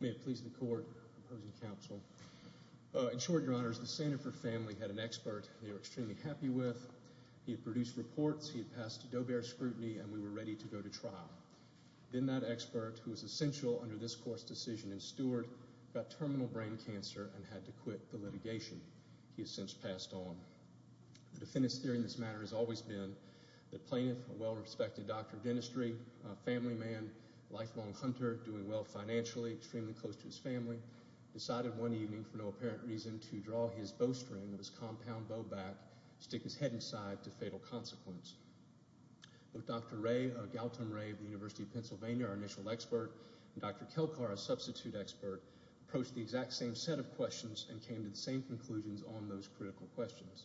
May it please the court, opposing counsel. In short, your honors, the Sandifer family had an expert they were extremely happy with. He had produced reports, he had passed Doe-Bear scrutiny, and we were ready to go to trial. Then that expert, who was essential under this court's decision as steward, got terminal brain cancer and had to quit the litigation he has since passed on. The defendant's theory in this matter has always been that plaintiff, a well-respected doctor of dentistry, a family man, lifelong hunter, doing well financially, extremely close to his family, decided one evening for no apparent reason to draw his bowstring of his compound bow back, stick his head inside to fatal consequence. Both Dr. Gautam Ray of the University of Pennsylvania, our initial expert, and Dr. Kelkar, our substitute expert, approached the exact same set of questions and came to the same conclusions on those critical questions.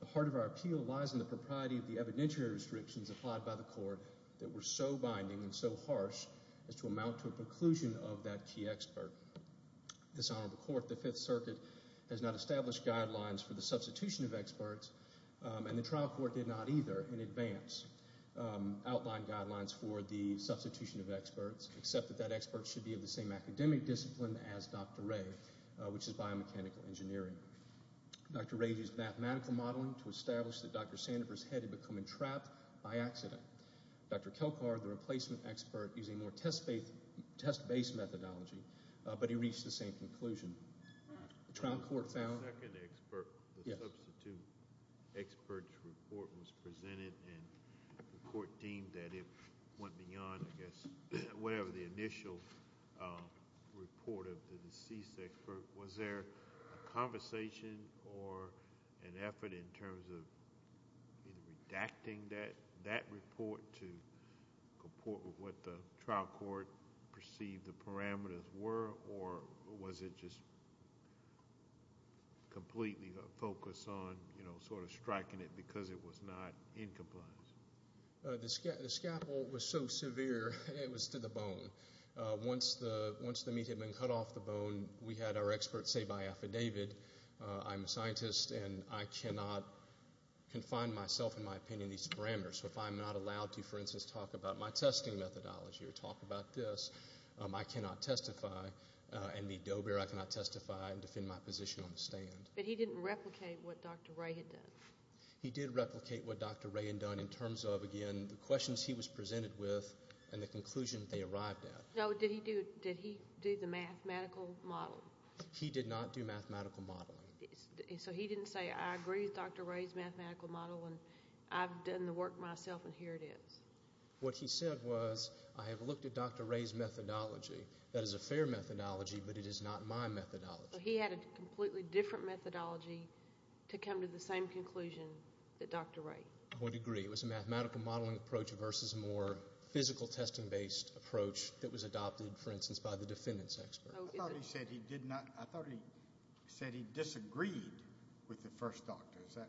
The heart of our appeal lies in the propriety of the evidentiary restrictions applied by the court that were so binding and so harsh as to amount to a preclusion of that key expert. This honorable court, the Fifth Circuit, has not established guidelines for the substitution of experts, and the trial court did not either in advance outline guidelines for the substitution of experts, except that that expert should be of the same academic discipline as Dr. Ray, which is biomechanical engineering. Dr. Ray used mathematical modeling to establish that Dr. Sandifer's head had become entrapped by accident. Dr. Kelkar, the replacement expert, used a more test-based methodology, but he reached the same conclusion. The trial court found— Completely focus on, you know, sort of striking it because it was not in compliance. The scapel was so severe, it was to the bone. Once the meat had been cut off the bone, we had our expert say by affidavit, I'm a scientist and I cannot confine myself in my opinion to these parameters. So if I'm not allowed to, for instance, talk about my testing methodology or talk about this, I cannot testify and be do-bear. I cannot testify and defend my position on the stand. But he didn't replicate what Dr. Ray had done. He did replicate what Dr. Ray had done in terms of, again, the questions he was presented with and the conclusion they arrived at. No, did he do the mathematical model? He did not do mathematical modeling. So he didn't say, I agree with Dr. Ray's mathematical model and I've done the work myself and here it is. What he said was, I have looked at Dr. Ray's methodology. That is a fair methodology, but it is not my methodology. He had a completely different methodology to come to the same conclusion that Dr. Ray. I would agree. It was a mathematical modeling approach versus a more physical testing-based approach that was adopted, for instance, by the defendants expert. I thought he said he disagreed with the first doctor. Is that?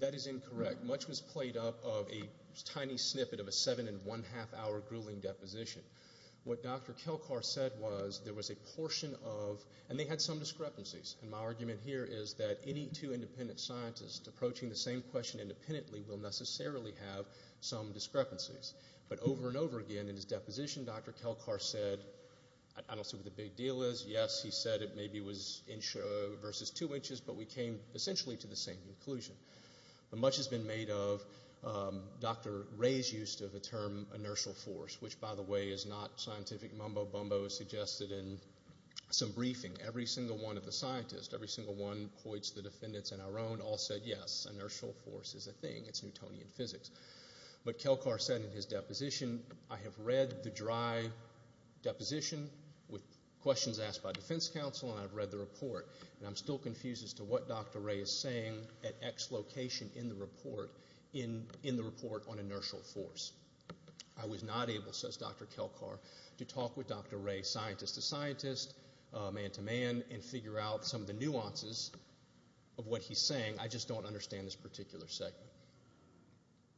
That is incorrect. Much was played up of a tiny snippet of a seven and one-half hour grueling deposition. What Dr. Kelcar said was there was a portion of, and they had some discrepancies, and my argument here is that any two independent scientists approaching the same question independently will necessarily have some discrepancies. But over and over again in his deposition, Dr. Kelcar said, I don't see what the big deal is. Yes, he said it maybe was versus two inches, but we came essentially to the same conclusion. But much has been made of Dr. Ray's use of the term inertial force, which, by the way, is not scientific mumbo-bumbo. It was suggested in some briefing. Every single one of the scientists, every single one poised to the defendants and our own all said, yes, inertial force is a thing. It is Newtonian physics. But Kelcar said in his deposition, I have read the dry deposition with questions asked by defense counsel, and I've read the report, and I'm still confused as to what Dr. Ray is saying at X location in the report on inertial force. I was not able, says Dr. Kelcar, to talk with Dr. Ray scientist to scientist, man to man, and figure out some of the nuances of what he's saying. I just don't understand this particular segment.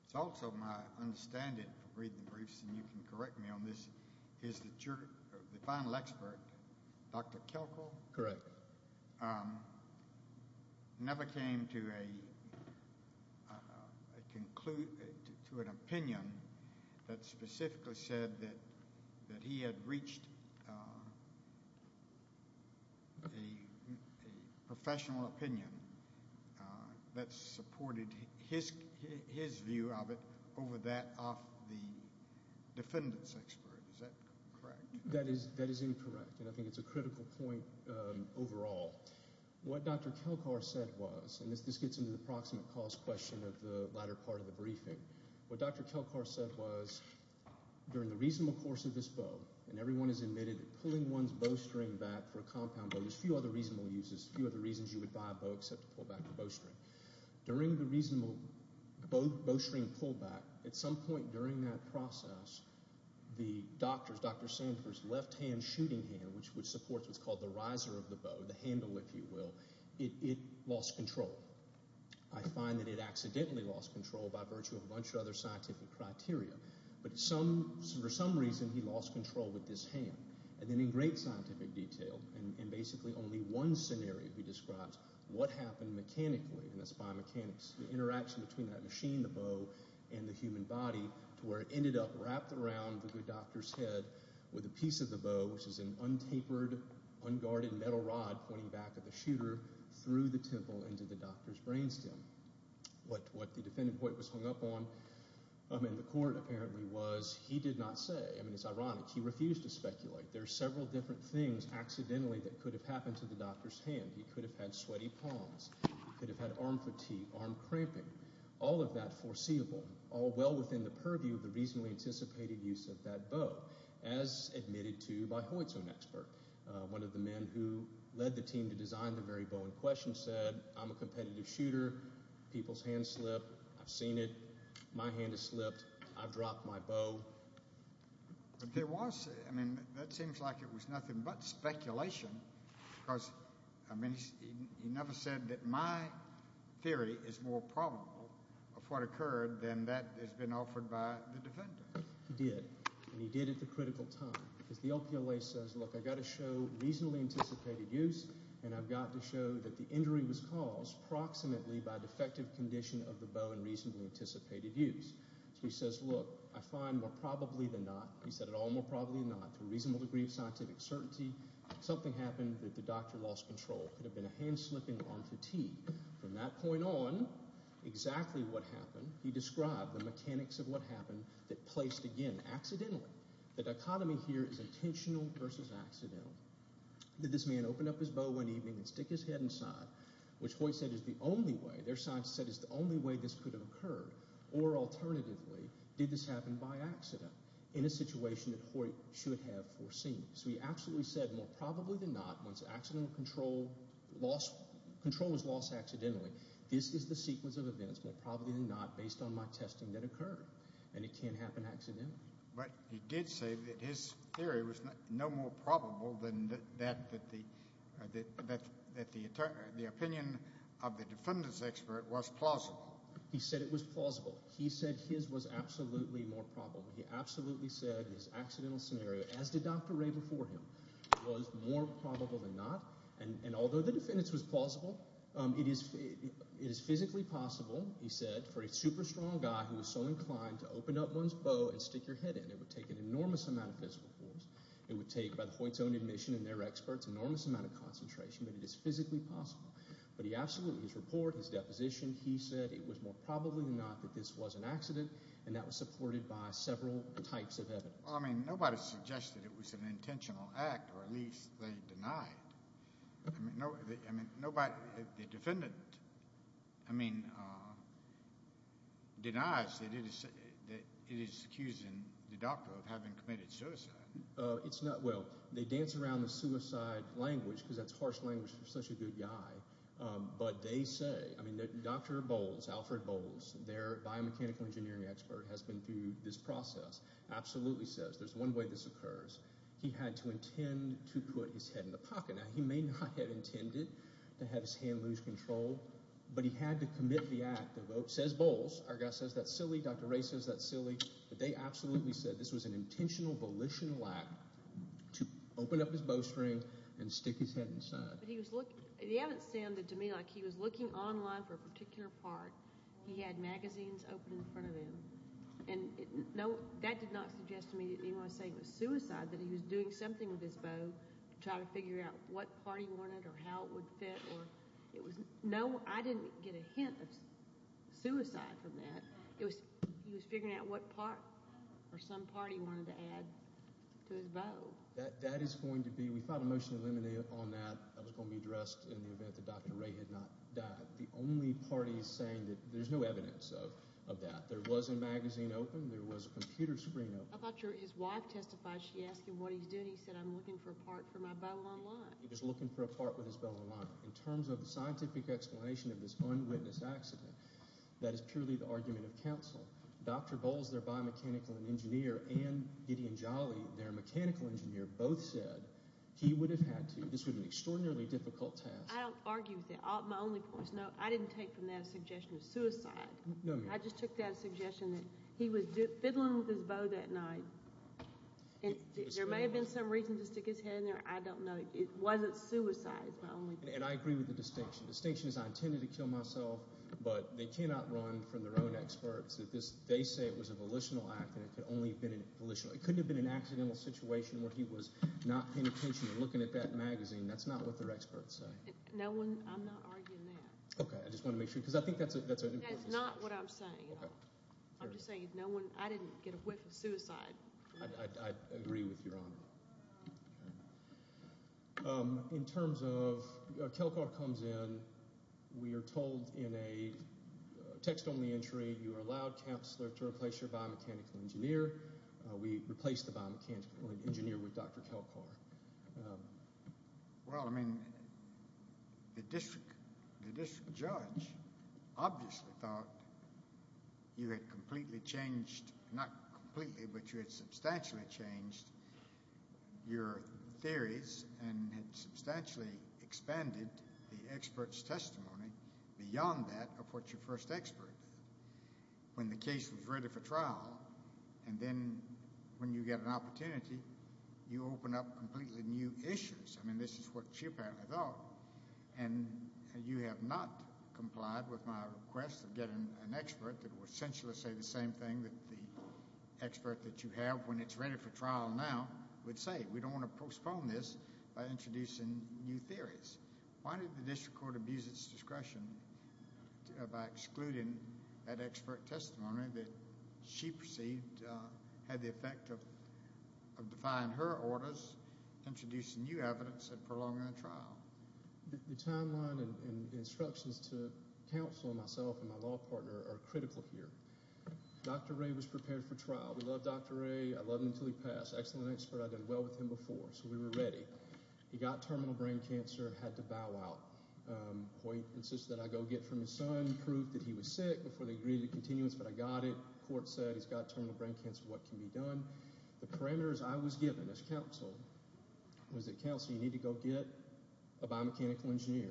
It's also my understanding from reading the briefs, and you can correct me on this, is that the final expert, Dr. Kelcar, never came to an opinion that specifically said that he had reached a professional opinion that supported his view of it over that of the defendants' expert. Is that correct? That is incorrect, and I think it's a critical point overall. What Dr. Kelcar said was, and this gets into the approximate cost question of the latter part of the briefing, what Dr. Kelcar said was during the reasonable course of this bow, and everyone has admitted pulling one's bow string back for a compound bow, there's a few other reasonable uses, a few other reasons you would buy a bow except to pull back the bow string. During the reasonable bow string pull back, at some point during that process, the doctor's, Dr. Sandler's, left hand shooting hand, which supports what's called the riser of the bow, the handle if you will, it lost control. I find that it accidentally lost control by virtue of a bunch of other scientific criteria, but for some reason he lost control with this hand. And then in great scientific detail, and basically only one scenario he describes, what happened mechanically, and that's by mechanics, the interaction between that machine, the bow, and the human body to where it ended up wrapped around the doctor's head with a piece of the bow, which is an untapered, unguarded metal rod pointing back at the shooter, through the temple into the doctor's brain stem. What the defendant was hung up on in the court apparently was, he did not say, I mean it's ironic, he refused to speculate. There are several different things accidentally that could have happened to the doctor's hand. He could have had sweaty palms. He could have had arm fatigue, arm cramping. All of that foreseeable, all well within the purview of the reasonably anticipated use of that bow, as admitted to by Hoyt's own expert. One of the men who led the team to design the very bow in question said, I'm a competitive shooter. People's hands slip. I've seen it. My hand has slipped. I've dropped my bow. But there was, I mean, that seems like it was nothing but speculation because, I mean, he never said that my theory is more probable of what occurred than that has been offered by the defendant. He did, and he did at the critical time because the LPLA says, look, I've got to show reasonably anticipated use and I've got to show that the injury was caused approximately by defective condition of the bow in reasonably anticipated use. So he says, look, I find more probably than not, he said it all more probably than not, to a reasonable degree of scientific certainty, something happened that the doctor lost control. It could have been a hand slipping, arm fatigue. From that point on, exactly what happened, he described the mechanics of what happened that placed, again, accidentally. The dichotomy here is intentional versus accidental. Did this man open up his bow one evening and stick his head inside, which Hoyt said is the only way, their science said is the only way this could have occurred? Or alternatively, did this happen by accident in a situation that Hoyt should have foreseen? So he absolutely said, more probably than not, once accidental control loss, control was lost accidentally, this is the sequence of events, more probably than not, based on my testing that occurred. And it can't happen accidentally. But he did say that his theory was no more probable than that the opinion of the defendant's expert was plausible. He said it was plausible. He said his was absolutely more probable. He absolutely said his accidental scenario, as did Dr. Ray before him, was more probable than not. And although the defendant's was plausible, it is physically possible, he said, for a super strong guy who was so inclined to open up one's bow and stick your head in. It would take an enormous amount of physical force. It would take, by Hoyt's own admission and their experts, an enormous amount of concentration. But it is physically possible. But he absolutely, his report, his deposition, he said it was more probably than not that this was an accident, and that was supported by several types of evidence. Well, I mean nobody suggested it was an intentional act, or at least they denied it. I mean nobody, the defendant, I mean, denies that it is accusing the doctor of having committed suicide. It's not, well, they dance around the suicide language because that's harsh language for such a good guy. But they say, I mean Dr. Bowles, Alfred Bowles, their biomechanical engineering expert, has been through this process, absolutely says there's one way this occurs. He had to intend to put his head in the pocket. Now he may not have intended to have his hand lose control, but he had to commit the act. The vote says Bowles. Our guy says that's silly. Dr. Ray says that's silly. But they absolutely said this was an intentional, volitional act to open up his bowstring and stick his head inside. But he was looking, they haven't sounded to me like he was looking online for a particular part. He had magazines open in front of him. And no, that did not suggest to me that he was saying it was suicide, that he was doing something with his bow, trying to figure out what part he wanted or how it would fit. No, I didn't get a hint of suicide from that. He was figuring out what part or some part he wanted to add to his bow. That is going to be, we filed a motion to eliminate on that. That was going to be addressed in the event that Dr. Ray had not died. The only part he's saying, there's no evidence of that. There was a magazine open. There was a computer screen open. I thought his wife testified. She asked him what he's doing. He said, I'm looking for a part for my bow online. He was looking for a part with his bow online. In terms of the scientific explanation of this unwitnessed accident, that is purely the argument of counsel. Dr. Bowles, their biomechanical engineer, and Gideon Jolly, their mechanical engineer, both said he would have had to. This was an extraordinarily difficult task. I don't argue with that. My only point is, no, I didn't take from that a suggestion of suicide. No, ma'am. I just took that as a suggestion that he was fiddling with his bow that night. There may have been some reason to stick his head in there. I don't know. It wasn't suicide. It's my only point. And I agree with the distinction. The distinction is I intended to kill myself, but they cannot run from their own experts. They say it was a volitional act, and it could only have been volitional. It couldn't have been an accidental situation where he was not paying attention or looking at that magazine. That's not what their experts say. No one – I'm not arguing that. Okay. I just want to make sure, because I think that's an important distinction. That's not what I'm saying at all. I'm just saying no one – I didn't get a whiff of suicide. I agree with Your Honor. In terms of – Kelcar comes in. We are told in a text-only entry, you are allowed, Counselor, to replace your biomechanical engineer. We replaced the biomechanical engineer with Dr. Kelcar. Well, I mean, the district judge obviously thought you had completely changed – not completely, but you had substantially changed your theories and had substantially expanded the expert's testimony beyond that of what your first expert did. When the case was ready for trial, and then when you get an opportunity, you open up completely new issues. I mean, this is what she apparently thought. And you have not complied with my request of getting an expert that will essentially say the same thing that the expert that you have when it's ready for trial now would say. We don't want to postpone this by introducing new theories. Why did the district court abuse its discretion by excluding that expert testimony that she perceived had the effect of defying her orders, introducing new evidence, and prolonging the trial? The timeline and instructions to Counselor, myself, and my law partner are critical here. Dr. Ray was prepared for trial. We love Dr. Ray. I loved him until he passed. Excellent expert. I did well with him before, so we were ready. He got terminal brain cancer and had to bow out. Hoyt insisted that I go get from his son proof that he was sick before they agreed to continuance, but I got it. The court said he's got terminal brain cancer. What can be done? The parameters I was given as Counselor was that Counselor, you need to go get a biomechanical engineer.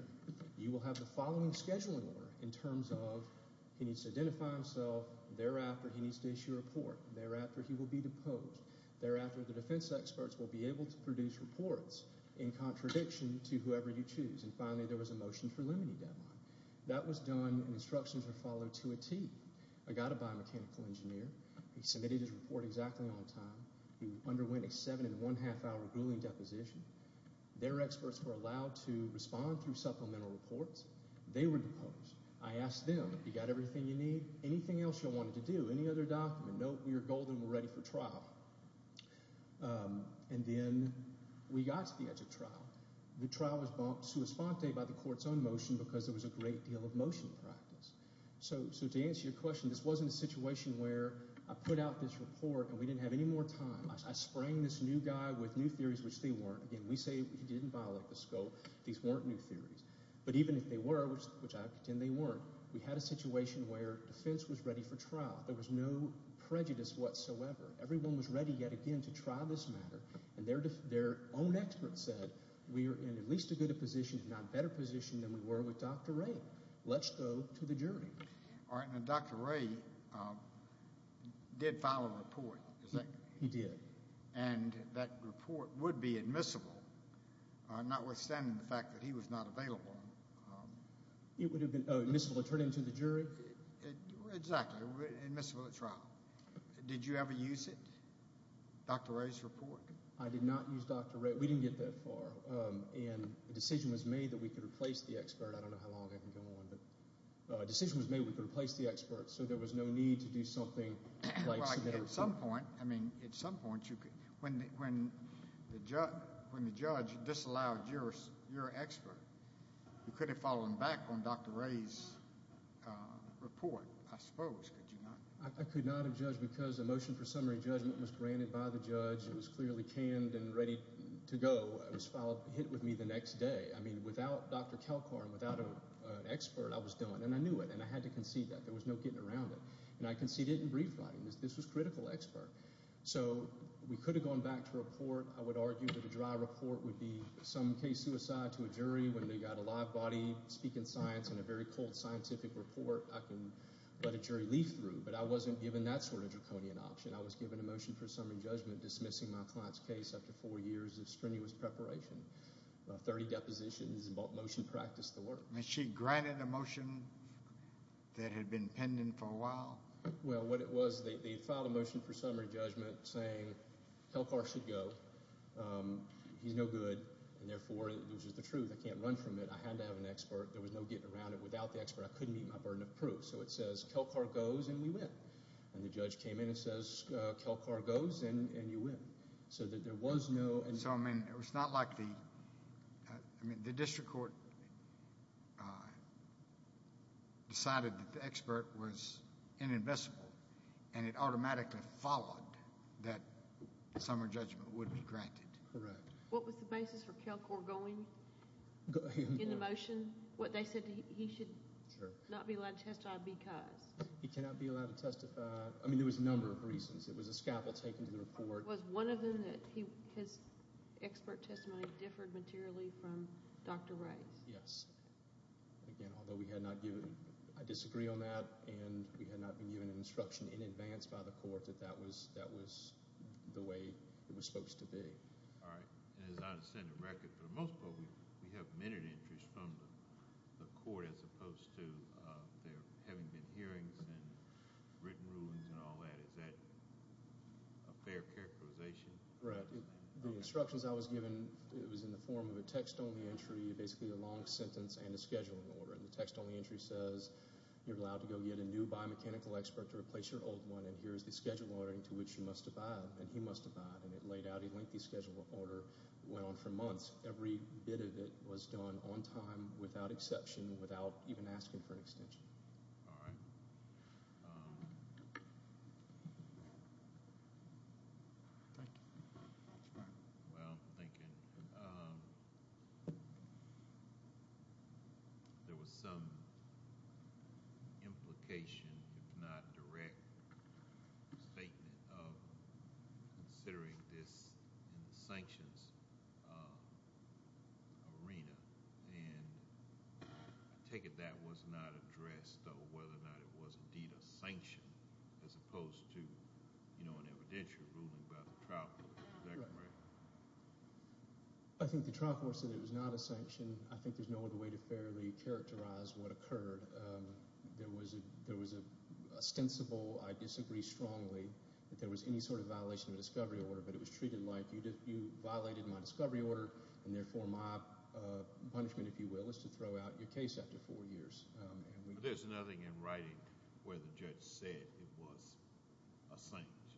You will have the following scheduling order in terms of he needs to identify himself. Thereafter, he needs to issue a report. Thereafter, he will be deposed. Thereafter, the defense experts will be able to produce reports in contradiction to whoever you choose. Finally, there was a motion for limiting deadline. That was done and instructions were followed to a tee. I got a biomechanical engineer. He submitted his report exactly on time. He underwent a seven and one-half hour grueling deposition. Their experts were allowed to respond through supplemental reports. They were deposed. I asked them, you got everything you need? Anything else you wanted to do? Any other document? No, we are golden. We're ready for trial. Then we got to the edge of trial. The trial was bumped sua sponte by the court's own motion because there was a great deal of motion practice. To answer your question, this wasn't a situation where I put out this report and we didn't have any more time. I sprang this new guy with new theories, which they weren't. Again, we say he didn't violate the scope. These weren't new theories. But even if they were, which I contend they weren't, we had a situation where defense was ready for trial. There was no prejudice whatsoever. Everyone was ready yet again to try this matter. Their own experts said we are in at least a good a position, if not a better position, than we were with Dr. Ray. Let's go to the jury. Dr. Ray did file a report, is that correct? He did. That report would be admissible, notwithstanding the fact that he was not available. It would have been admissible to turn him to the jury? Exactly, admissible at trial. Did you ever use it, Dr. Ray's report? I did not use Dr. Ray. We didn't get that far. And a decision was made that we could replace the expert. I don't know how long I can go on. But a decision was made we could replace the expert so there was no need to do something like submit a report. At some point, when the judge disallowed your expert, you could have followed back on Dr. Ray's report, I suppose, could you not? I could not have judged because a motion for summary judgment was granted by the judge. It was clearly canned and ready to go. It was hit with me the next day. Without Dr. Kalkar and without an expert, I was done. And I knew it and I had to concede that. There was no getting around it. And I conceded in brief writing. This was critical expert. So we could have gone back to report. I would argue that a dry report would be some case suicide to a jury. When they got a live body speaking science and a very cold scientific report, I can let a jury leaf through. But I wasn't given that sort of draconian option. I was given a motion for summary judgment dismissing my client's case after four years of strenuous preparation, 30 depositions, and motion practice to work. Was she granted a motion that had been pending for a while? Well, what it was, they filed a motion for summary judgment saying Kalkar should go. He's no good. And, therefore, it was just the truth. I can't run from it. I had to have an expert. There was no getting around it. Without the expert, I couldn't meet my burden of proof. So it says Kalkar goes and we win. And the judge came in and says, Kalkar goes and you win. So, I mean, it was not like the district court decided that the expert was inadmissible and it automatically followed that summary judgment would be granted. Correct. What was the basis for Kalkar going in the motion? They said he should not be allowed to testify because. He cannot be allowed to testify. I mean, there was a number of reasons. It was a scaffold taken to the report. Was one of them that his expert testimony differed materially from Dr. Rice? Yes. Again, although we had not given... I disagree on that. And we had not been given an instruction in advance by the court that that was the way it was supposed to be. All right. And as I understand the record, for the most part, we have minute entries from the court as opposed to there having been hearings and written rulings and all that. Is that a fair characterization? Right. The instructions I was given, it was in the form of a text-only entry, basically a long sentence and a scheduling order. And the text-only entry says you're allowed to go get a new biomechanical expert to replace your old one, and here is the schedule ordering to which you must abide. And he must abide. And it laid out a lengthy schedule order that went on for months. Every bit of it was done on time, without exception, without even asking for an extension. All right. Thank you. Mr. Martin? Well, I'm thinking there was some implication, if not direct, statement of considering this in the sanctions arena. And I take it that was not addressed, though, whether or not it was indeed a sanction as opposed to an evidential ruling by the trial court. Is that correct? I think the trial court said it was not a sanction. I think there's no other way to fairly characterize what occurred. There was an ostensible, I disagree strongly, that there was any sort of violation of the discovery order. But it was treated like you violated my discovery order, and therefore my punishment, if you will, is to throw out your case after four years. But there's nothing in writing where the judge said it was a sanction.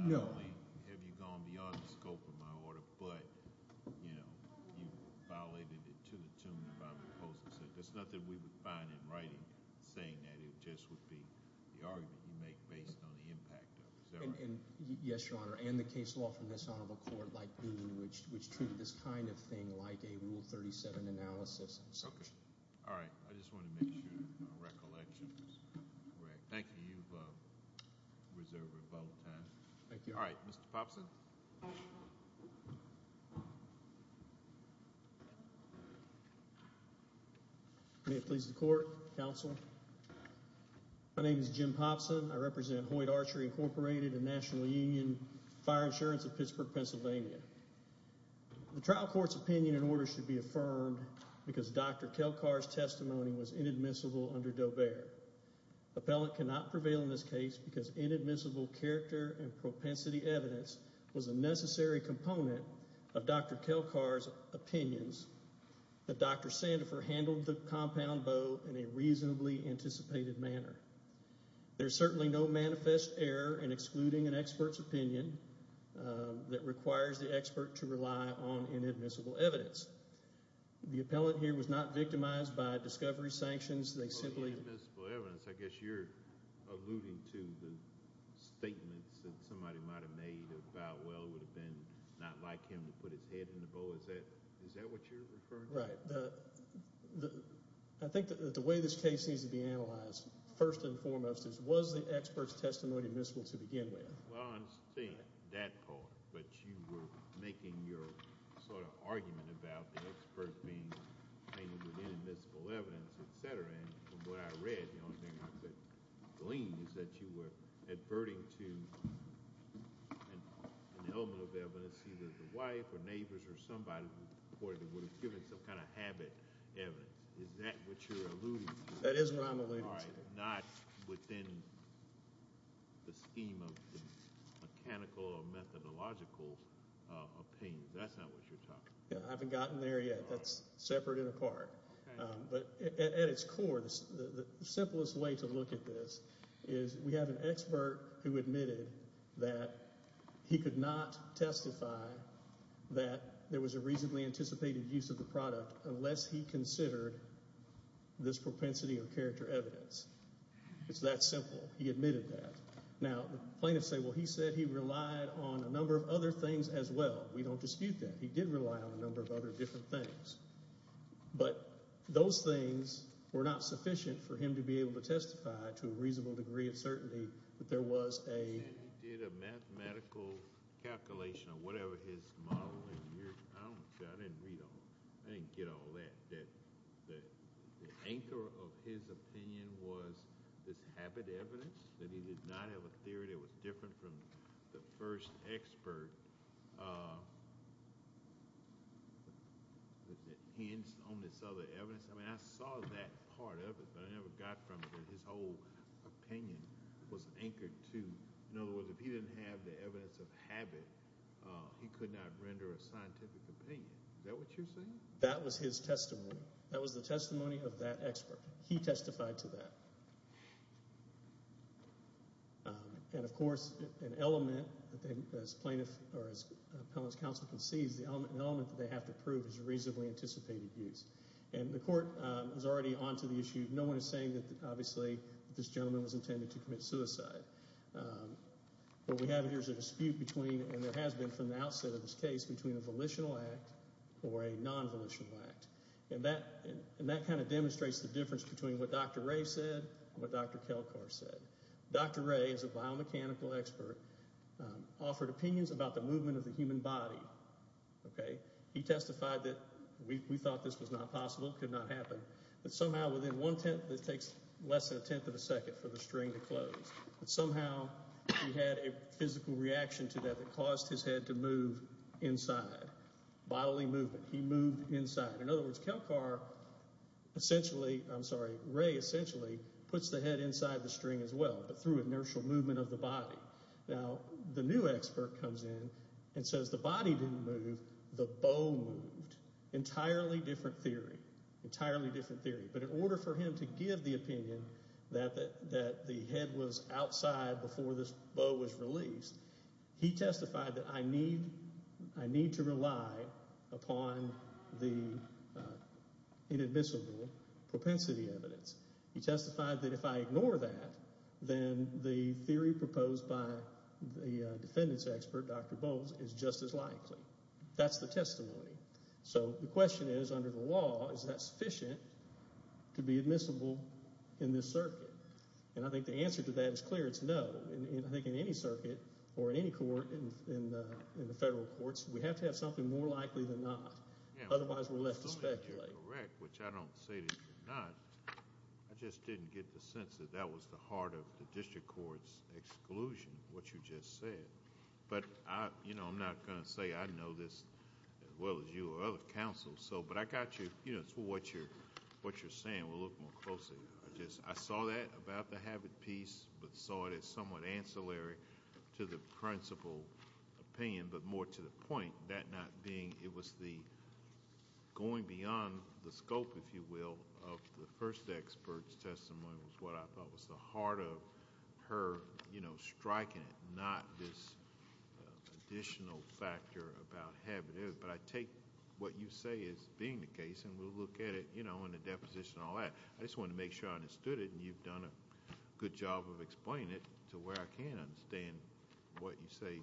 No. Not only have you gone beyond the scope of my order, but, you know, you violated it to the tune of my proposal. There's nothing we would find in writing saying that. It just would be the argument you make based on the impact of it. Is that right? Yes, Your Honor, and the case law from this honorable court, which treated this kind of thing like a Rule 37 analysis and sanction. All right. I just wanted to make sure my recollection was correct. Thank you. You've reserved a vote of time. Thank you. All right. Mr. Popson. May it please the Court, Counsel. My name is Jim Popson. I represent Hoyt Archery Incorporated and National Union Fire Insurance of Pittsburgh, Pennsylvania. The trial court's opinion and order should be affirmed because Dr. Kelcar's testimony was inadmissible under Dobear. Appellant cannot prevail in this case because inadmissible character and propensity evidence was a necessary component of Dr. Kelcar's opinions that Dr. Sandifer handled the compound bow in a reasonably anticipated manner. There's certainly no manifest error in excluding an expert's opinion that requires the expert to rely on inadmissible evidence. The appellant here was not victimized by discovery sanctions. They simply— Inadmissible evidence. I guess you're alluding to the statements that somebody might have made about, well, it would have been not like him to put his head in the bow. Is that what you're referring to? Right. I think that the way this case needs to be analyzed, first and foremost, is was the expert's testimony admissible to begin with? Well, I understand that part, but you were making your sort of argument about the expert being painted with inadmissible evidence, etc., and from what I read, the only thing I could glean is that you were adverting to an element of evidence, either the wife or neighbors or somebody who reportedly would have given some kind of habit evidence. Is that what you're alluding to? That is what I'm alluding to. All right, not within the scheme of mechanical or methodological opinions. That's not what you're talking about. I haven't gotten there yet. That's separate and apart. Okay. But at its core, the simplest way to look at this is we have an expert who admitted that he could not testify that there was a reasonably anticipated use of the product unless he considered this propensity or character evidence. It's that simple. He admitted that. Now, plaintiffs say, well, he said he relied on a number of other things as well. We don't dispute that. He did rely on a number of other different things. But those things were not sufficient for him to be able to testify to a reasonable degree of certainty that there was a He said he did a mathematical calculation of whatever his model was. I don't understand. I didn't read all that. I didn't get all that. The anchor of his opinion was this habit evidence that he did not have a theory that was different from the first expert. Was it hints on this other evidence? I mean, I saw that part of it, but I never got from it that his whole opinion was anchored to. In other words, if he didn't have the evidence of habit, he could not render a scientific opinion. Is that what you're saying? That was his testimony. That was the testimony of that expert. He testified to that. And, of course, an element, as plaintiff or as appellant's counsel concedes, the element that they have to prove is a reasonably anticipated use. And the court is already on to the issue. No one is saying that, obviously, this gentleman was intended to commit suicide. What we have here is a dispute between, and there has been from the outset of this case, between a volitional act or a non-volitional act. And that kind of demonstrates the difference between what Dr. Ray said and what Dr. Kelkar said. Dr. Ray, as a biomechanical expert, offered opinions about the movement of the human body. He testified that we thought this was not possible, could not happen, but somehow within one tenth, it takes less than a tenth of a second for the string to close. But somehow he had a physical reaction to that that caused his head to move inside. Bodily movement. He moved inside. In other words, Kelkar essentially, I'm sorry, Ray essentially puts the head inside the string as well, but through inertial movement of the body. Now, the new expert comes in and says the body didn't move, the bow moved. Entirely different theory. Entirely different theory. But in order for him to give the opinion that the head was outside before this bow was released, he testified that I need to rely upon the inadmissible propensity evidence. He testified that if I ignore that, then the theory proposed by the defendants expert, Dr. Bowles, is just as likely. That's the testimony. So the question is, under the law, is that sufficient to be admissible in this circuit? And I think the answer to that is clear. It's no. I think in any circuit or in any court in the federal courts, we have to have something more likely than not. Otherwise, we're left to speculate. You're correct, which I don't say that you're not. I just didn't get the sense that that was the heart of the district court's exclusion, what you just said. But, you know, I'm not going to say I know this as well as you or other counsels. But I got you. It's what you're saying. We'll look more closely. I saw that about the habit piece, but saw it as somewhat ancillary to the principal opinion, but more to the point. That not being, it was the going beyond the scope, if you will, of the first expert's testimony, was what I thought was the heart of her striking it, not this additional factor about habit. But I take what you say as being the case, and we'll look at it in the deposition and all that. I just wanted to make sure I understood it, and you've done a good job of explaining it to where I can't understand what you say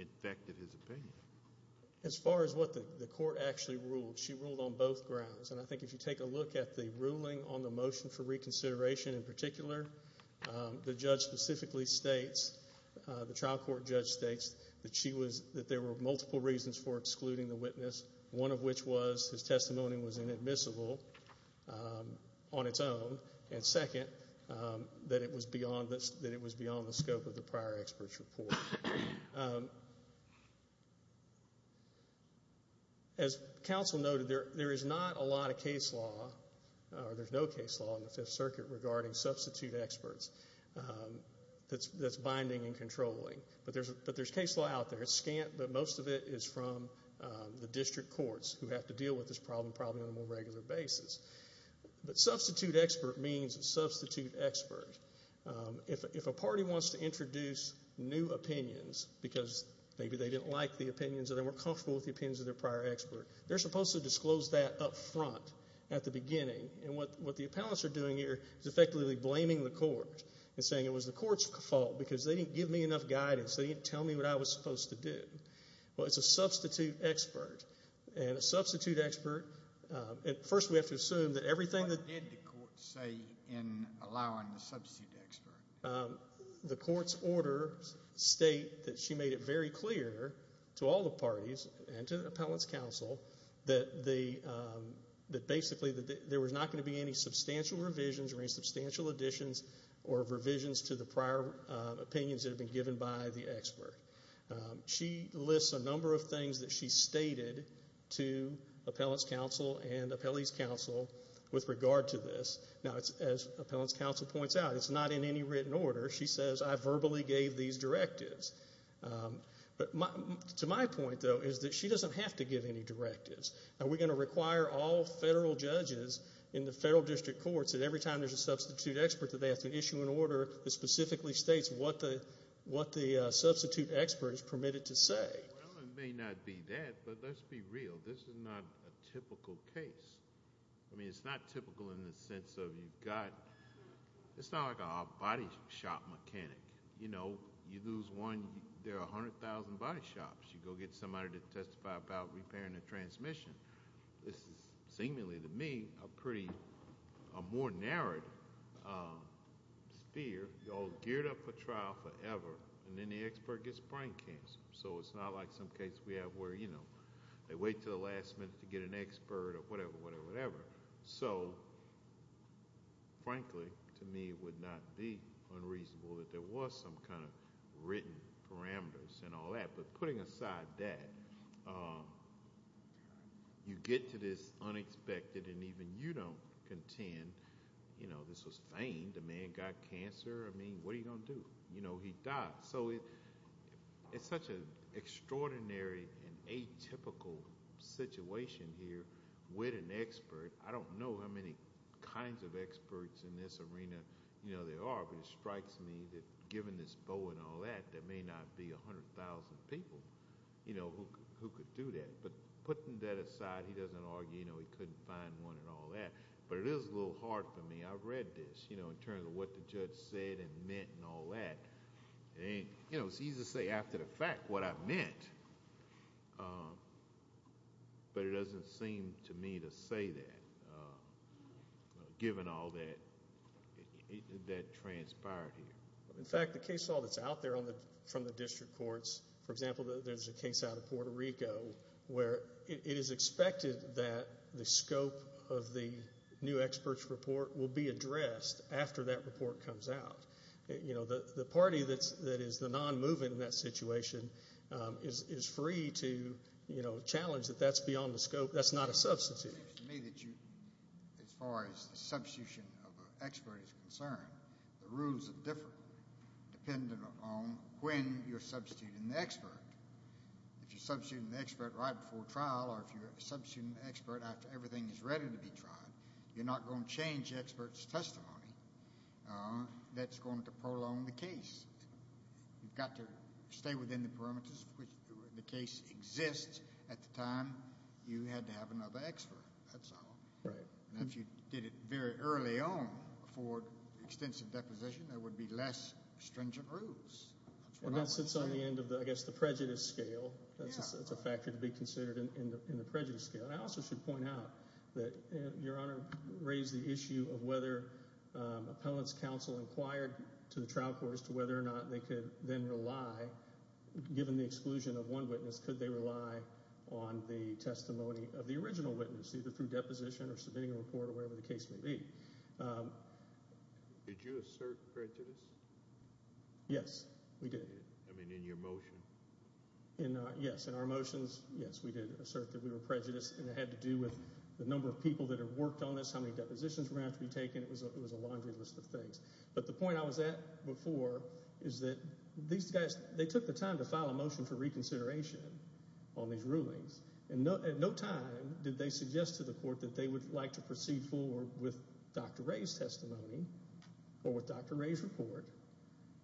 infected his opinion. As far as what the court actually ruled, she ruled on both grounds. And I think if you take a look at the ruling on the motion for reconsideration in particular, the judge specifically states, the trial court judge states, that there were multiple reasons for excluding the witness, one of which was his testimony was inadmissible. On its own. And second, that it was beyond the scope of the prior expert's report. As counsel noted, there is not a lot of case law, or there's no case law, in the Fifth Circuit regarding substitute experts that's binding and controlling. But there's case law out there. It's scant, but most of it is from the district courts who have to deal with this problem, probably on a more regular basis. But substitute expert means substitute expert. If a party wants to introduce new opinions because maybe they didn't like the opinions or they weren't comfortable with the opinions of their prior expert, they're supposed to disclose that up front at the beginning. And what the appellants are doing here is effectively blaming the court and saying, it was the court's fault because they didn't give me enough guidance. They didn't tell me what I was supposed to do. Well, it's a substitute expert. And a substitute expert, first we have to assume that everything that- What did the court say in allowing the substitute expert? The court's orders state that she made it very clear to all the parties and to the appellants' counsel that basically there was not going to be any substantial revisions or any substantial additions or revisions to the prior opinions that had been given by the expert. She lists a number of things that she stated to appellants' counsel and appellees' counsel with regard to this. Now, as appellants' counsel points out, it's not in any written order. She says, I verbally gave these directives. But to my point, though, is that she doesn't have to give any directives. Are we going to require all federal judges in the federal district courts that every time there's a substitute expert that they have to issue an order that specifically states what the substitute expert is permitted to say? Well, it may not be that, but let's be real. This is not a typical case. I mean, it's not typical in the sense of you've got-it's not like a body shop mechanic. You know, you lose one, there are 100,000 body shops. You go get somebody to testify about repairing a transmission. This is seemingly to me a pretty-a more narrowed sphere. You're all geared up for trial forever, and then the expert gets brain cancer. So it's not like some cases we have where, you know, they wait until the last minute to get an expert or whatever, whatever, whatever. So, frankly, to me it would not be unreasonable that there was some kind of written parameters and all that. But putting aside that, you get to this unexpected, and even you don't contend, you know, this was feigned. A man got cancer. I mean, what are you going to do? You know, he died. So it's such an extraordinary and atypical situation here with an expert. I don't know how many kinds of experts in this arena there are, but it strikes me that given this bow and all that, there may not be 100,000 people, you know, who could do that. But putting that aside, he doesn't argue, you know, he couldn't find one and all that. But it is a little hard for me. I've read this, you know, in terms of what the judge said and meant and all that. You know, it's easy to say after the fact what I meant, but it doesn't seem to me to say that, given all that transpired here. In fact, the case law that's out there from the district courts, for example, there's a case out of Puerto Rico where it is expected that the scope of the new expert's report will be addressed after that report comes out. You know, the party that is the non-movement in that situation is free to, you know, challenge that that's beyond the scope. That's not a substitute. To me, as far as the substitution of an expert is concerned, the rules are different, depending upon when you're substituting the expert. If you're substituting the expert right before trial or if you're substituting the expert after everything is ready to be tried, you're not going to change the expert's testimony. That's going to prolong the case. You've got to stay within the parameters of which the case exists at the time you had to have another expert. That's all. And if you did it very early on for extensive deposition, there would be less stringent rules. And that sits on the end of, I guess, the prejudice scale. That's a factor to be considered in the prejudice scale. And I also should point out that Your Honor raised the issue of whether appellant's counsel inquired to the trial court as to whether or not they could then rely, given the exclusion of one witness, could they rely on the testimony of the original witness, either through deposition or submitting a report or wherever the case may be. Did you assert prejudice? Yes, we did. I mean, in your motion. Yes, in our motions, yes, we did assert that we were prejudiced, and it had to do with the number of people that have worked on this, how many depositions were going to have to be taken. It was a laundry list of things. But the point I was at before is that these guys, they took the time to file a motion for reconsideration on these rulings, and at no time did they suggest to the court that they would like to proceed forward with Dr. Ray's testimony or with Dr. Ray's report.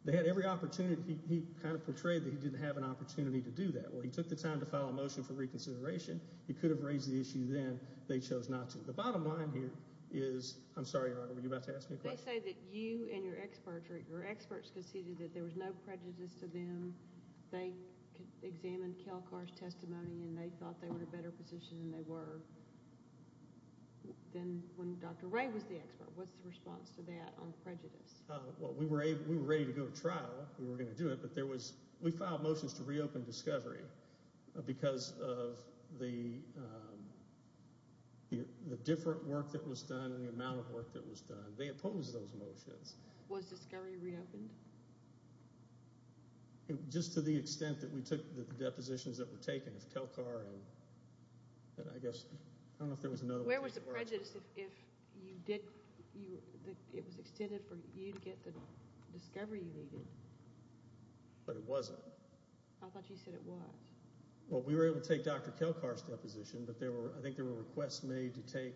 They had every opportunity. He kind of portrayed that he didn't have an opportunity to do that. Well, he took the time to file a motion for reconsideration. He could have raised the issue then. They chose not to. The bottom line here is, I'm sorry, Your Honor, were you about to ask me a question? They say that you and your experts conceded that there was no prejudice to them. They examined Kelcar's testimony, and they thought they were in a better position than they were when Dr. Ray was the expert. What's the response to that on prejudice? Well, we were ready to go to trial. We were going to do it. We filed motions to reopen Discovery because of the different work that was done and the amount of work that was done. They opposed those motions. Was Discovery reopened? Just to the extent that we took the depositions that were taken of Kelcar and I guess, I don't know if there was another one. Where was the prejudice if it was extended for you to get the Discovery you needed? But it wasn't. I thought you said it was. Well, we were able to take Dr. Kelcar's deposition, but I think there were requests made to take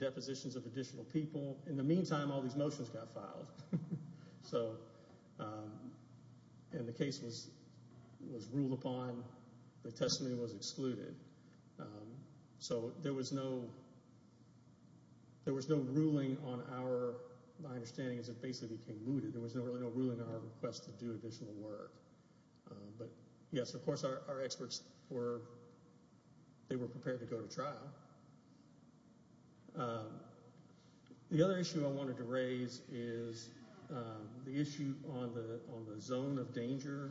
depositions of additional people. In the meantime, all these motions got filed, and the case was ruled upon. The testimony was excluded. So there was no ruling on our, my understanding is it basically became mooted. There was really no ruling on our request to do additional work. But yes, of course, our experts were prepared to go to trial. The other issue I wanted to raise is the issue on the zone of danger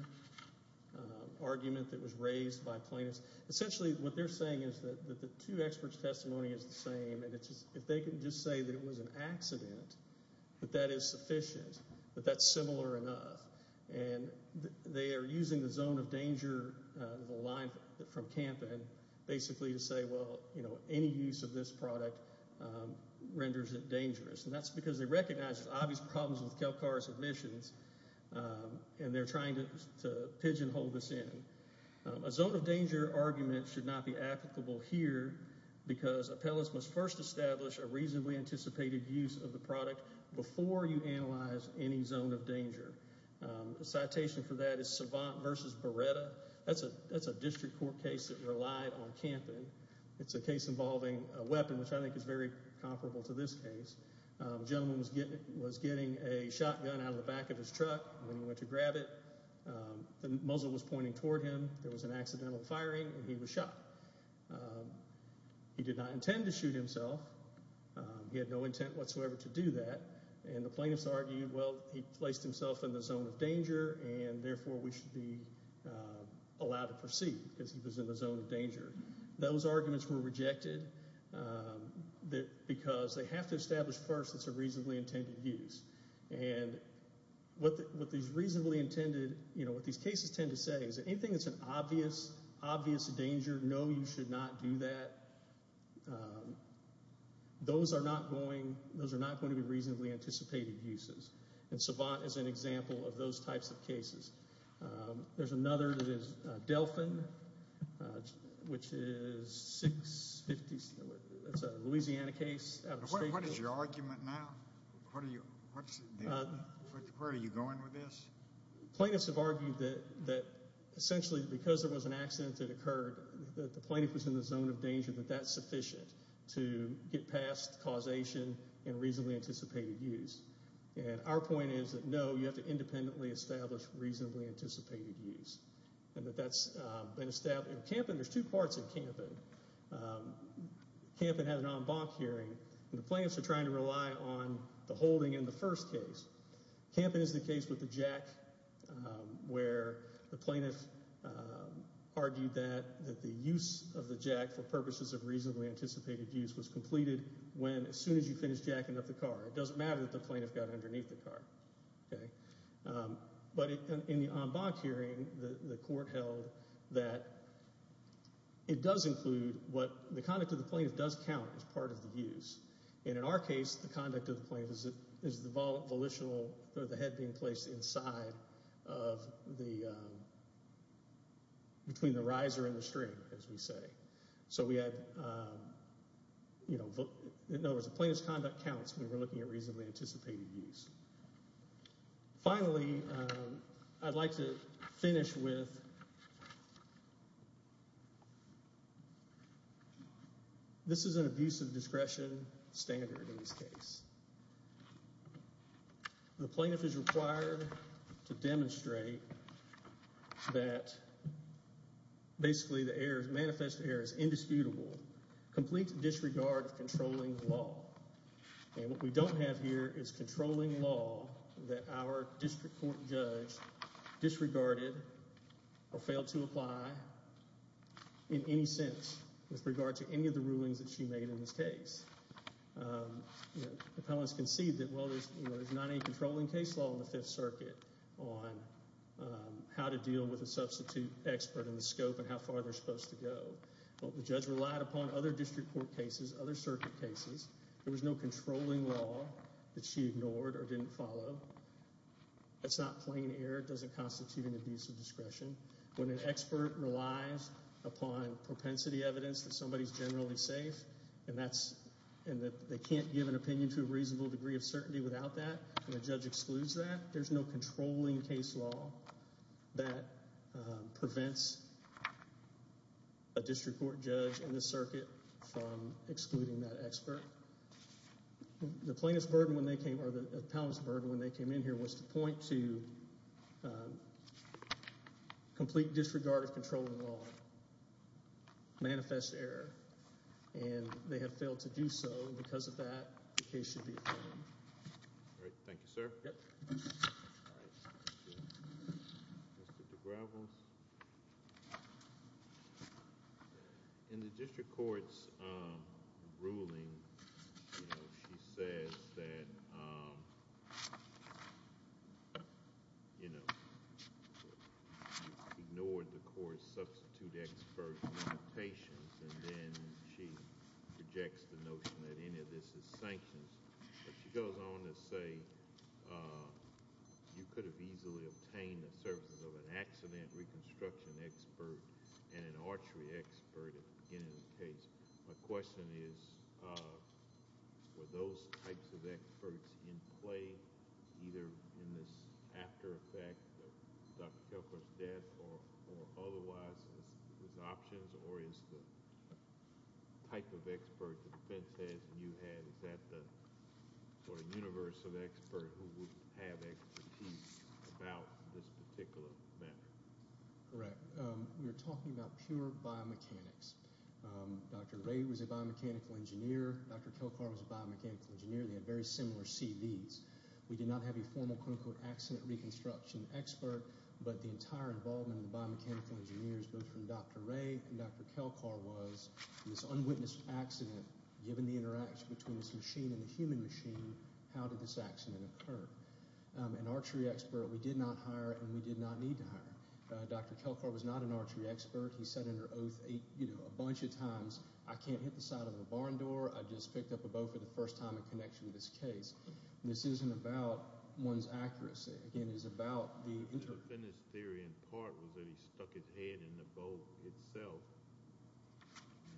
argument that was raised by plaintiffs. Essentially, what they're saying is that the two experts' testimony is the same, and if they can just say that it was an accident, that that is sufficient, that that's similar enough. And they are using the zone of danger, the line from Kampen, basically to say, well, any use of this product renders it dangerous. And that's because they recognize there's obvious problems with Kelcar's admissions, and they're trying to pigeonhole this in. A zone of danger argument should not be applicable here, because appellants must first establish a reasonably anticipated use of the product before you analyze any zone of danger. The citation for that is Savant v. Beretta. That's a district court case that relied on Kampen. It's a case involving a weapon, which I think is very comparable to this case. A gentleman was getting a shotgun out of the back of his truck when he went to grab it. The muzzle was pointing toward him. There was an accidental firing, and he was shot. He did not intend to shoot himself. He had no intent whatsoever to do that. And the plaintiffs argued, well, he placed himself in the zone of danger, and therefore we should be allowed to proceed because he was in the zone of danger. Those arguments were rejected because they have to establish first it's a reasonably intended use. And what these cases tend to say is anything that's an obvious danger, no, you should not do that. Those are not going to be reasonably anticipated uses, and Savant is an example of those types of cases. There's another that is Delphin, which is a Louisiana case. What is your argument now? Where are you going with this? Plaintiffs have argued that essentially because there was an accident that occurred, that the plaintiff was in the zone of danger, that that's sufficient to get past causation and reasonably anticipated use. And our point is that, no, you have to independently establish reasonably anticipated use, and that that's been established. In Kampen, there's two parts in Kampen. Kampen had an en banc hearing, and the plaintiffs are trying to rely on the holding in the first case. Kampen is the case with the jack where the plaintiff argued that the use of the jack for purposes of reasonably anticipated use was completed as soon as you finished jacking up the car. It doesn't matter that the plaintiff got underneath the car. But in the en banc hearing, the court held that it does include what the conduct of the plaintiff does count as part of the use. And in our case, the conduct of the plaintiff is the volitional, the head being placed inside between the riser and the string, as we say. So we have, you know, in other words, the plaintiff's conduct counts when we're looking at reasonably anticipated use. Finally, I'd like to finish with this is an abuse of discretion standard in this case. The plaintiff is required to demonstrate that basically the manifest error is indisputable, complete disregard of controlling law. And what we don't have here is controlling law that our district court judge disregarded or failed to apply in any sense with regard to any of the rulings that she made in this case. Appellants concede that, well, there's not any controlling case law in the Fifth Circuit on how to deal with a substitute expert in the scope and how far they're supposed to go. Well, the judge relied upon other district court cases, other circuit cases. There was no controlling law that she ignored or didn't follow. That's not plain error. It doesn't constitute an abuse of discretion. When an expert relies upon propensity evidence that somebody's generally safe, and that they can't give an opinion to a reasonable degree of certainty without that, and a judge excludes that, there's no controlling case law that prevents a district court judge in this circuit from excluding that expert. The plaintiff's burden when they came or the appellant's burden when they came in here was to point to complete disregard of controlling law, manifest error. And they have failed to do so. Because of that, the case should be adjourned. All right. Thank you, sir. All right. Thank you. Mr. DeGravels. In the district court's ruling, she says that, you know, and she rejects the notion that any of this is sanctions. But she goes on to say, you could have easily obtained the services of an accident reconstruction expert and an archery expert at the beginning of the case. My question is, were those types of experts in play, either in this after effect of Dr. Kelcourt's death or otherwise as options, or is the type of expert that the defense has and you have, is that the sort of universal expert who would have expertise about this particular matter? Correct. We're talking about pure biomechanics. Dr. Ray was a biomechanical engineer. Dr. Kelcourt was a biomechanical engineer. They had very similar CVs. We did not have a formal clinical accident reconstruction expert, but the entire involvement of the biomechanical engineers, both from Dr. Ray and Dr. Kelcourt, was this unwitnessed accident, given the interaction between this machine and the human machine, how did this accident occur? An archery expert we did not hire and we did not need to hire. Dr. Kelcourt was not an archery expert. He said in her oath a bunch of times, I can't hit the side of a barn door. I just picked up a bow for the first time in connection with this case. This isn't about one's accuracy. Again, it's about the interpretation. His theory in part was that he stuck his head in the bow itself.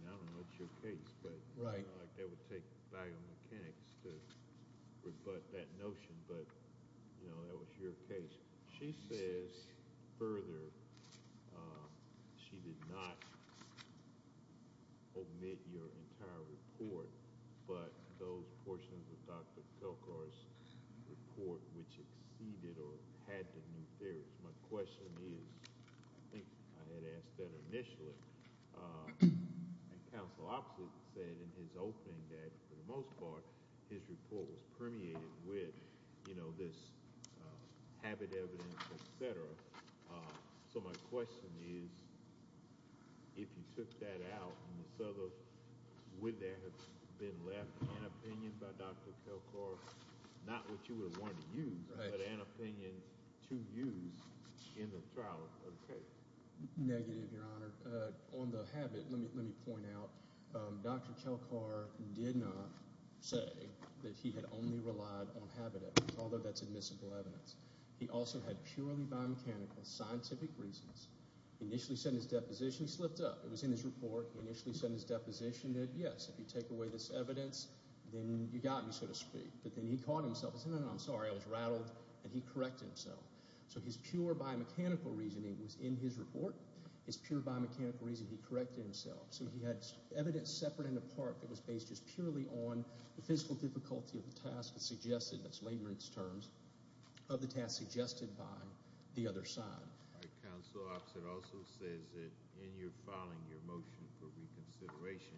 I don't know what's your case, but I feel like that would take biomechanics to rebut that notion, but that was your case. She says further, she did not omit your entire report, but those portions of Dr. Kelcourt's report which exceeded or had the new theories. My question is, I think I had asked that initially, and counsel opposite said in his opening that, for the most part, his report was permeated with this habit evidence, et cetera. So my question is, if you took that out, would there have been left an opinion by Dr. Kelcourt, not what you would have wanted to use, but an opinion to use in the trial of the case? Negative, Your Honor. On the habit, let me point out, Dr. Kelcourt did not say that he had only relied on habit evidence, although that's admissible evidence. He also had purely biomechanical scientific reasons. He initially said in his deposition he slipped up. It was in his report. He initially said in his deposition that, yes, if you take away this evidence, then you got me, so to speak. But then he caught himself and said, no, no, I'm sorry. I was rattled, and he corrected himself. So his pure biomechanical reasoning was in his report. His pure biomechanical reasoning, he corrected himself. So he had evidence separate and apart that was based just purely on the physical difficulty of the task that's suggested, that's lagrance terms, of the task suggested by the other side. All right. Counsel, it also says that in your filing, your motion for reconsideration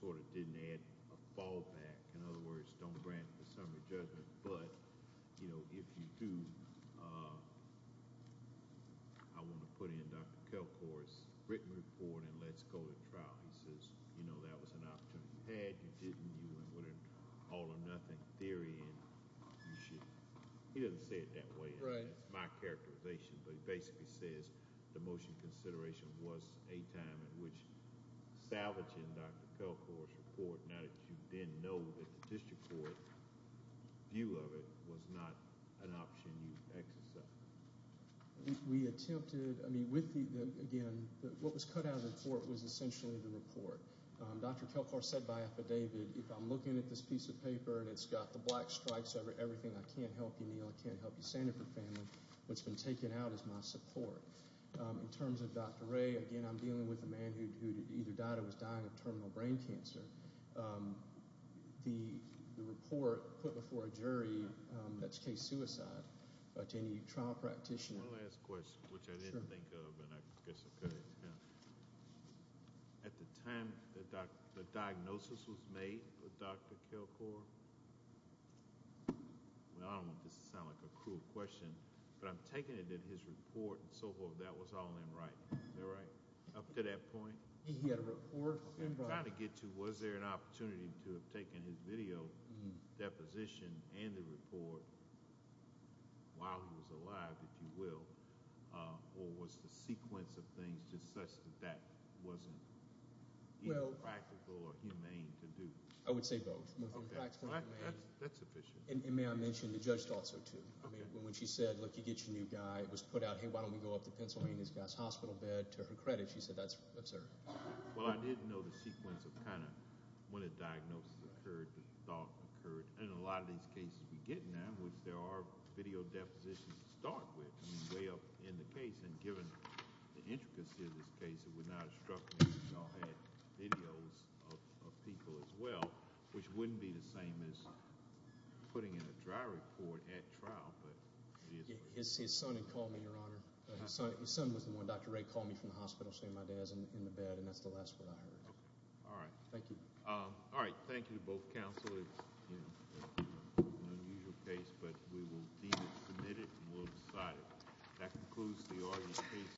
sort of didn't add a fallback. In other words, don't grant the summary judgment. But, you know, if you do, I want to put in Dr. Kelcourt's written report and let's go to trial. He says, you know, that was an opportunity you had. You didn't. You wouldn't all or nothing theory and you should. He doesn't say it that way. Right. That's my characterization. But he basically says the motion consideration was a time in which salvaging Dr. Kelcourt's report, now that you then know that the district court view of it was not an option you exercised. We attempted, I mean, with the, again, what was cut out of the court was essentially the report. Dr. Kelcourt said by affidavit, if I'm looking at this piece of paper and it's got the black stripes, everything, I can't help you, Neil. I can't help you, Sanford family. What's been taken out is my support. In terms of Dr. Ray, again, I'm dealing with a man who either died or was dying of terminal brain cancer. The report put before a jury that's case suicide to any trial practitioner. One last question, which I didn't think of and I guess I could have. At the time the diagnosis was made with Dr. Kelcourt, well, I don't want this to sound like a cruel question, but I'm taking it that his report and so forth, that was all in writing. Is that right? Up to that point? He had a report. I'm trying to get to was there an opportunity to have taken his video deposition and the report while he was alive, if you will, or was the sequence of things just such that that wasn't either practical or humane to do? I would say both. Okay. That's efficient. And may I mention the judge thought so, too. I mean, when she said, look, you get your new guy, it was put out, hey, why don't we go up to Pennsylvania, this guy's hospital bed, to her credit, she said that's absurd. Well, I didn't know the sequence of kind of when the diagnosis occurred, the thought occurred, and in a lot of these cases we get now in which there are video depositions to start with, I mean, way up in the case, and given the intricacy of this case, it would not have struck me if we all had videos of people as well, which wouldn't be the same as putting in a dry report at trial, but it is what it is. His son had called me, Your Honor. His son was the one. Dr. Ray called me from the hospital saying my dad's in the bed, and that's the last word I heard. All right. Thank you. All right. Thank you to both counsel. It's an unusual case, but we will deem it submitted and we'll decide it. That concludes the audience case.